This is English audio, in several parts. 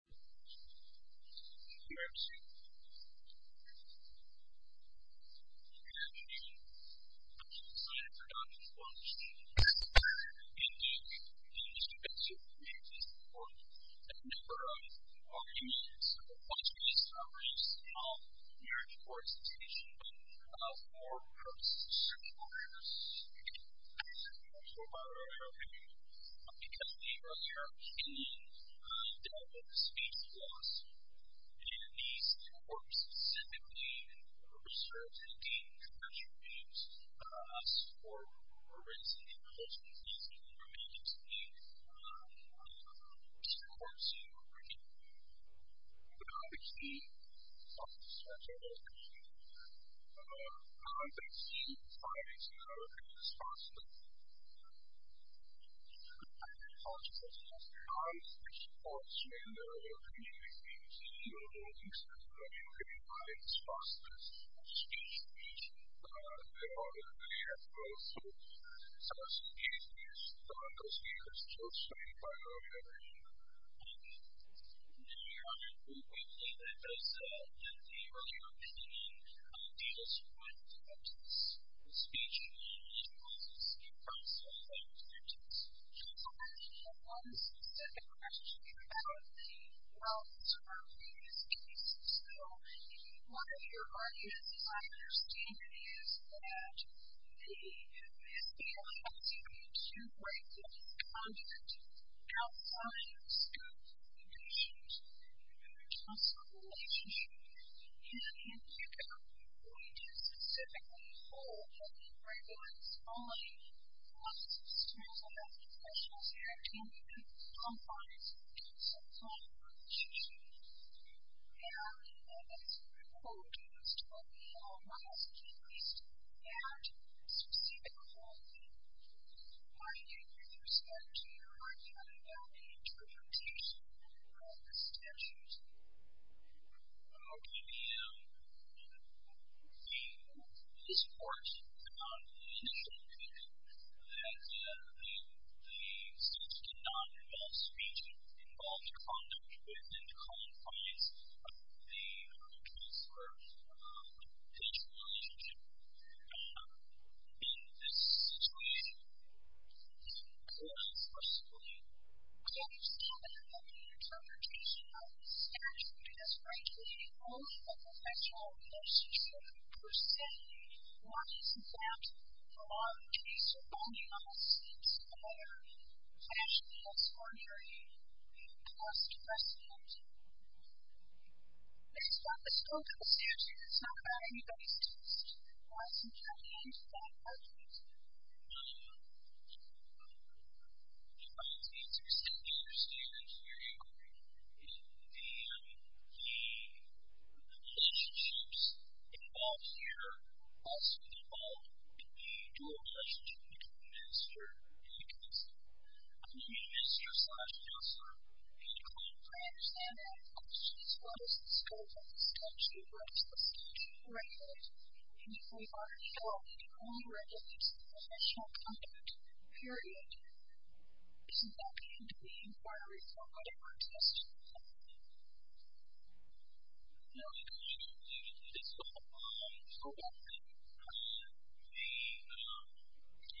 Edmund was a congressman who excelled in argumentation, religious theory, and constitutional law. As antoninus V, V, and Gone Death in 18AKE it was important to have a number of arguments on this commerce in all thegging norms and presuppositions of moral purposes and subordinates. Andrew Amos, former public diplomat, became a member there, came in and made a positive impression there. And Andrew writes in his book Speech Laws, and in these courts specifically in VI certain games, commercial games, support for illicit inNoble substances in relationships, and is being played online in one of the most important service you will even but not the key sources in your opinion, how do you survive the victims of Speech Laws, and how do you survive the victims? So I have one specific question about the wealth surrounding these cases. So, one of your arguments I understand is that the FBI wants you to break the conduct outside of the scope of the cases. In the case of a relationship, even in Utah, where you do specifically hold a very large colony, lots of smells of alcoholic alcohols, and can be put in confines in some kind of relationship. How, and this is a good quote, is to help you know what has increased, and to see the I gave you the respect to your argument about the interpretation of the statutes. How can you, in this court, not initially think that the states did not involve speech, but involved conduct within the confines of the transfer of potential relationship? In this situation, the court, personally, can't help you with the interpretation of the statute, because rightfully, only the potential most chosen person wants that for a case involving almost a similar fashionless or very cost-effective. Based on the scope of the statute, it's not about anybody's taste. It's about somebody else's point of view. It's interesting to understand your inquiry. The relationships involved here also involve the dual relationship between the minister and the counselor. The minister, such as the counselor, can claim to understand all the questions. What is the scope of the statute? What does the statute regulate? And if we already know, it only regulates the official conduct, period. This is not the end of the inquiry, for whatever reason. Yes. No, I agree with you. This is not the end of the inquiry.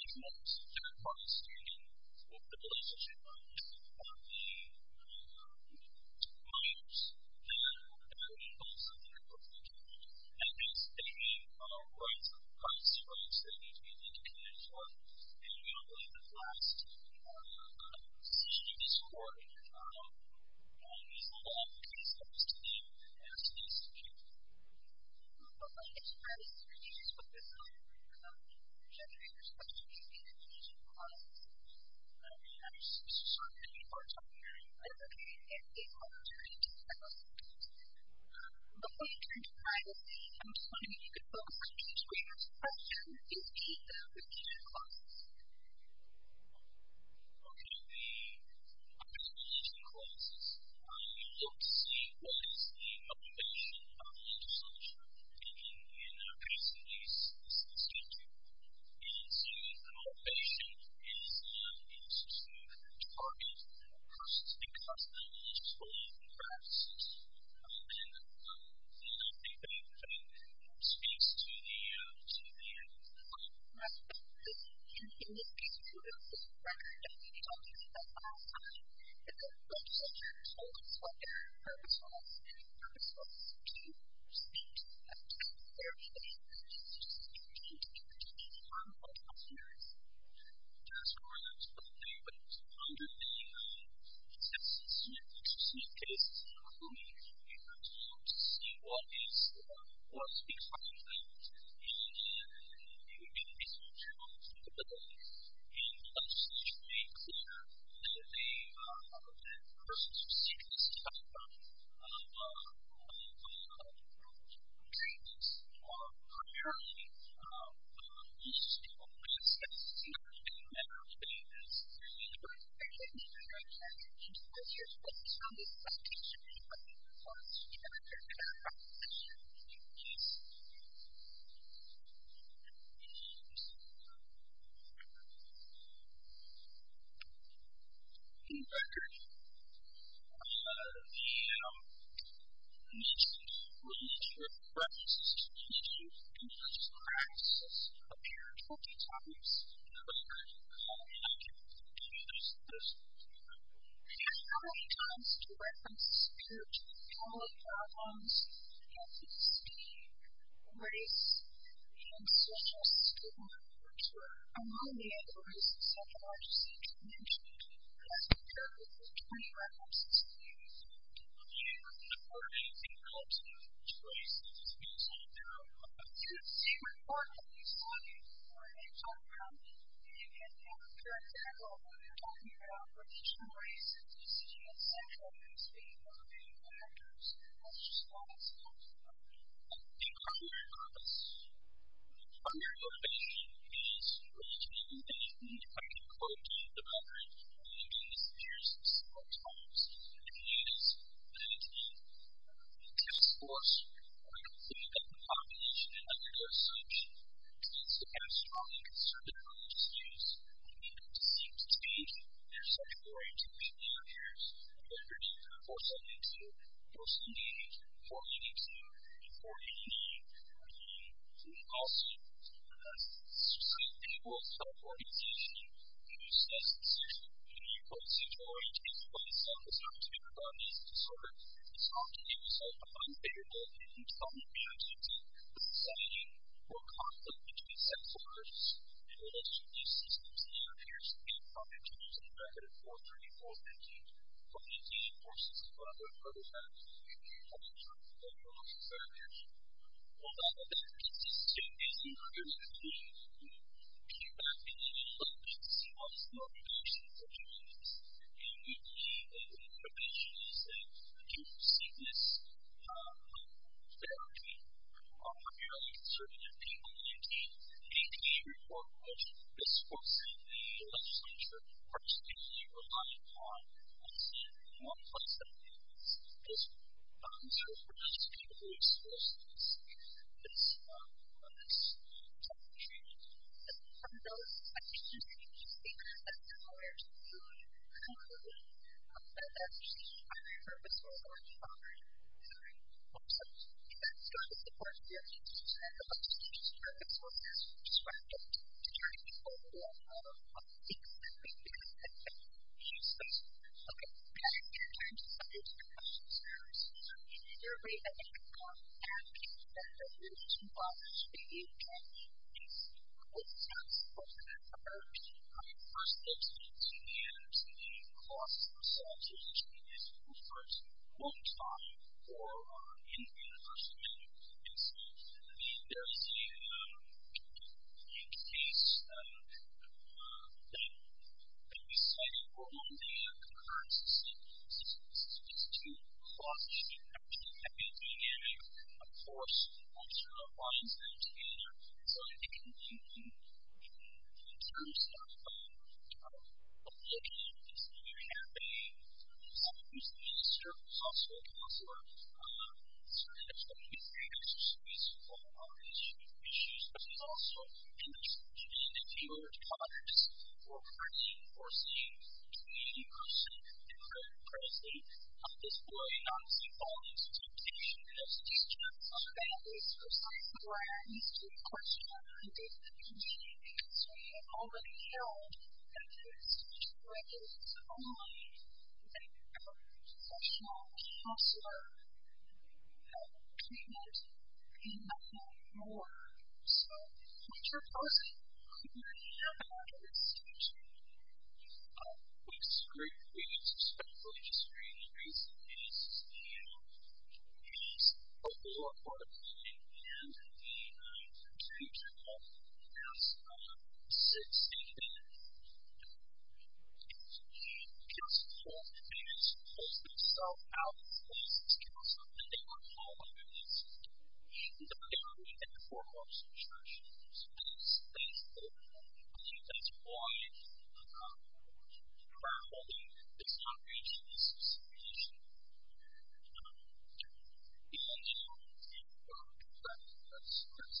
It's not just a third-party statement. The relationship between the minors and the counselors is not the end of the inquiry. And there's many rights, privacy rights, that need to be taken into account, and we don't have a lot of time. So, it's interesting to understand the scope of the statute. I think it's very interesting to look at it from the perspective of the individual counsel. We have so many courts out there advocating that they want to reach out to the individual counsel. But when it comes to privacy, I'm just wondering if you could focus on the individual counsel and the individual application process. Okay. The application process. You look to see what is the motivation of the individual counsel in their case in this statute. And so, the motivation is to target the persons because of their religious belief and practices. And I think that you're putting more space to the end of the call. Right. In this case, we're going to look at the fact that we don't have a lot of time. And so, I'm just wondering if you could tell us what the purpose was, and if the purpose was to seek a case where the individual counsel just didn't have the opportunity to harm their customers. That's correct. Okay. So, how many times do references to color, problems, ethnicity, race, and social stigma occur? I know in the end of the race and sociology statute, you mentioned that there are over 20 references to these. Okay. And so, what do you think helps you choose these? Okay. So, you can see what part of the statute or names I found. And you can have, for example, when you're talking about religion, race, ethnicity, and sexual abuse being one of the main factors. That's just one example. I think our main purpose, our main motivation is reaching the need by encroaching the memory and linking the spheres of self-talks, opinions, and discourse. I don't think that the population can undergo such extensive and strongly conservative religious views. We need them to seek to change their sexual orientation behaviors, whether it's 472, 478, 482, 488, 488. We also need to have sustainable self-organization. If you set a sexual orientation based on the self-assertiveness of your body and disorder, it's hard to give yourself a non-favorable opinion. It's hard to be objective. The society will conflict between sexual urges in relation to these systems. And it appears to be a product of using a record of 434, 488, 488, 467, 488, 488, 488, 488, 488. Well, that leads us to an increasingly feedback-inducing focus on self-organization for communities. And we believe that when populations that do seek this therapy, who are very conservative people, maintain a clear moral vision, this forces the legislature, particularly relying on what's in one person's hands. This bonds her with the most capable resources in this country. And from those ideas that you just gave us, I'm not aware to the degree to which you believe that there's actually a purpose for a lot of therapy. I'm sorry. I'm sorry. In fact, it's not just a point of view. It's a point of view. It's a purpose. It's a purpose. It's a purpose. I mean, there's a case that we cite in Portland, where the current system is too clutched and too hectic, and of course, it also binds them together. So I think in terms of looking at this theory of therapy, some of this is possible. It's possible there's going to be a great exercise in all of our history of issues. But it's also interesting that your partners were pretty foreseen, to me personally, and very closely, of this theory not to fall into temptation. It's true. So that is precisely where I am as to the question of the definition, because we have already held that this is a way that is only a conceptual, but it's also a treatment in a whole new world. So, what's your position? We already have a lot of this teaching. We've screwed things, especially just recently, and we need a whole lot more of it. And I think that, as I said, I think it's just more things that pull themselves out of places, because they don't know what they need to do. They don't know what they need to do for themselves. They don't know what they need to do for other people. I think that's why the current model does not reach this distinction. I see. But. Yeah, this might be. This. About Black Gaud shes past being us, and if some people won't do things—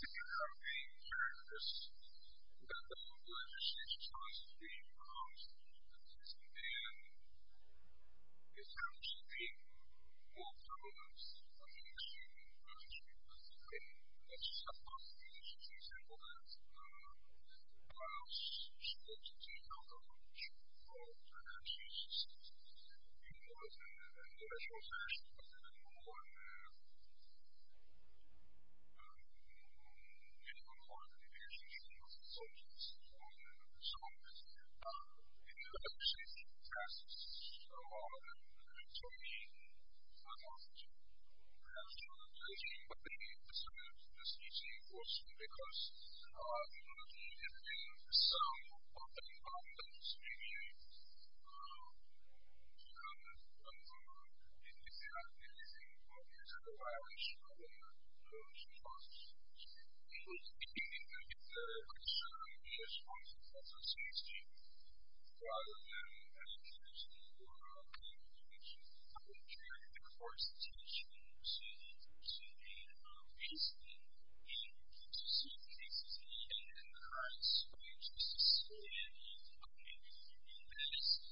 It's actually an issue this time. Let's say that somebody needs to be segmented into the class, supposed to take home the rich, and she's in a more natural fashion, a little bit more in accord with the relationship of the subjects. So, if you look at, say, the past, Tony, I don't have too much information, but maybe some of the speaking was because you were looking at some of the conversations that were going on, and you could say, I think there's a lot of issue in those conversations. I think it's a concern, the response of the association, rather than education or communication. I think there's a forced attention to the racism in society. Racism in the United States, racism in America, in the U.S.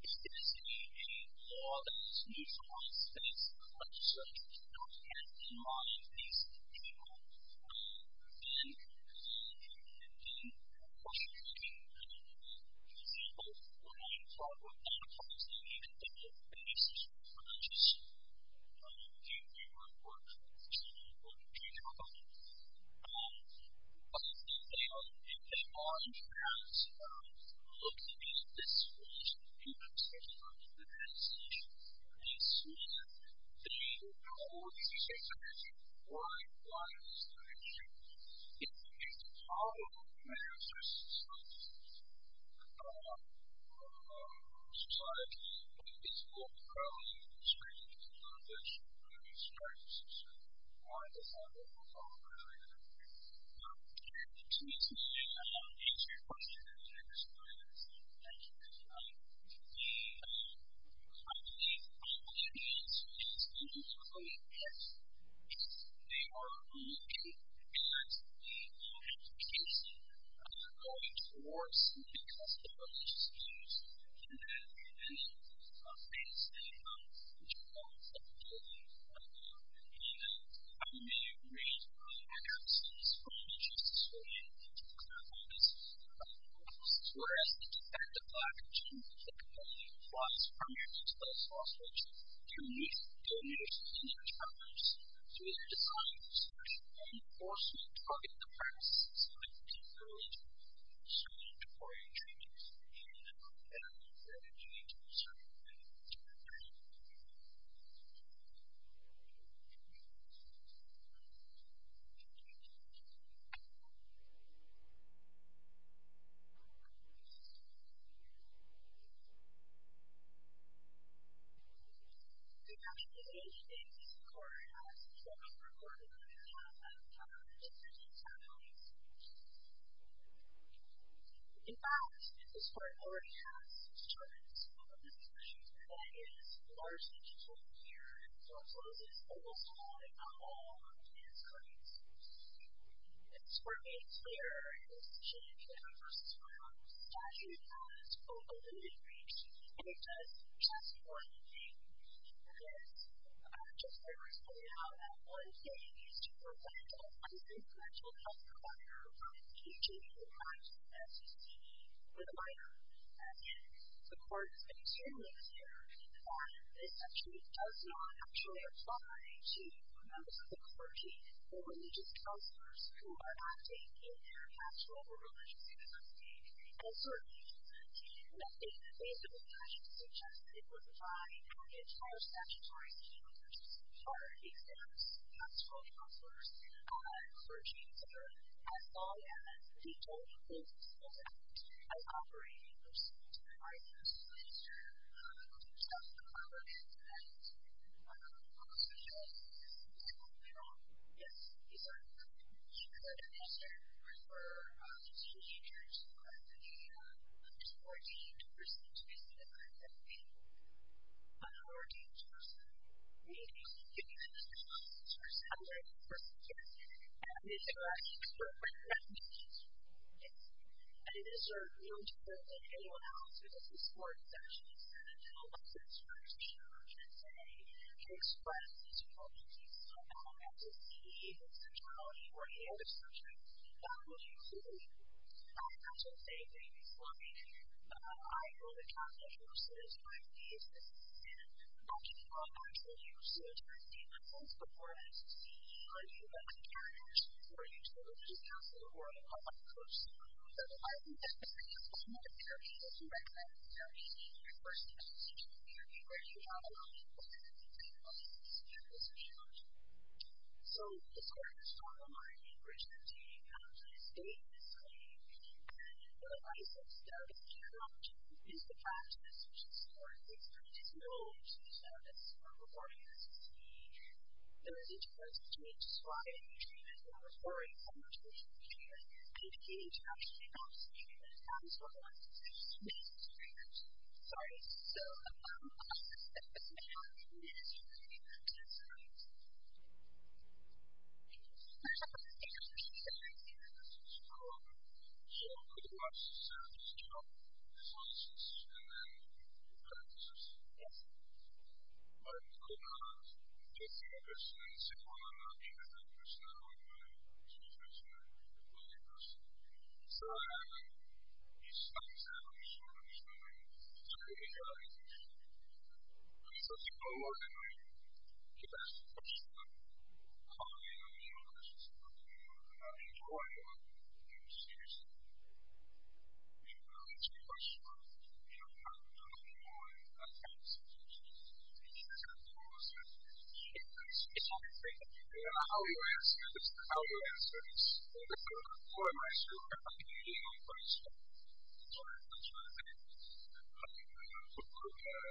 It is a law that is used a lot in states in the country, so if you don't have in mind these people, then, you know, then, of course, you're going to get an example of what I'm talking about, and of course, you can think of racist approaches. I mean, if you were to work for the Supreme Court of Utah, a lot of the time, a lot of the time, it's about looking at this from the perspective of the association. The association, the whole of the association, why is this an issue? It's because all of the communities in society, it's all about the structure of the organization, the structure of society, why does that happen? What's all the rambling and everything? And to answer your question, and to explain this, thank you, I believe all of the associations are going to get, if they are looking at the education of the voting force, because they are racist groups, and there are many things that you know, that you know, that you don't know, and I mean, I agree, I absolutely support and I just as fully agree with what you're talking about, because, of course, we're asking to get back the black and Jewish that only applies primarily to those hostages, to meet their needs, to meet their challenges, to meet their desires, and of course, we target the practices that we can build so that before you treat us, you let us know that we're going to need your support and we're going to do our best to get back to you. The next association is Corridor, so I'm going to record a little bit of that and talk a little bit about what it entails. In fact, this work already has determined that this is an issue that is largely controlled here and so it closes almost all if not all of its currents. This work made clear in the session that I gave the first time that it has a limited reach and it does just one thing, and that is just very recently found out that one thing is to prevent a mental health provider from teaching or advising that to be a provider and the court has been determined here that this actually does not actually apply to members of the clergy or religious counselors who are acting in their pastoral or religious communities and so in the case that I suggested it would apply to all statutory counselors or even pastoral counselors for a change in their pastoral or religious or religious or pastoral activities as operating or supporting providers and so the problem is that most of the cases that we offer yes is that we could measure or infer the teenagers who are the unordained person to be certified as being an ordained person and so we could use the counselors as a way to suggest that this correction program is really good and it is a real tool that anyone else who has the support is actually sending a letter to their church or church and saying to express this point that they don't have the support need to be certified as being an ordained person and so I think that this is a really important tool and I think that we can use it as a way to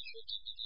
make sure that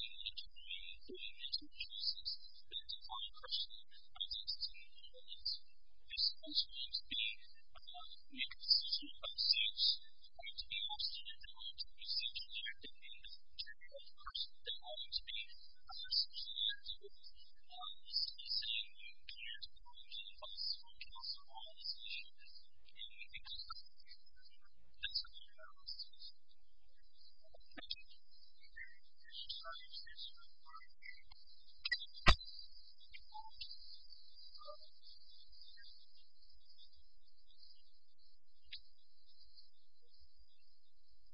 we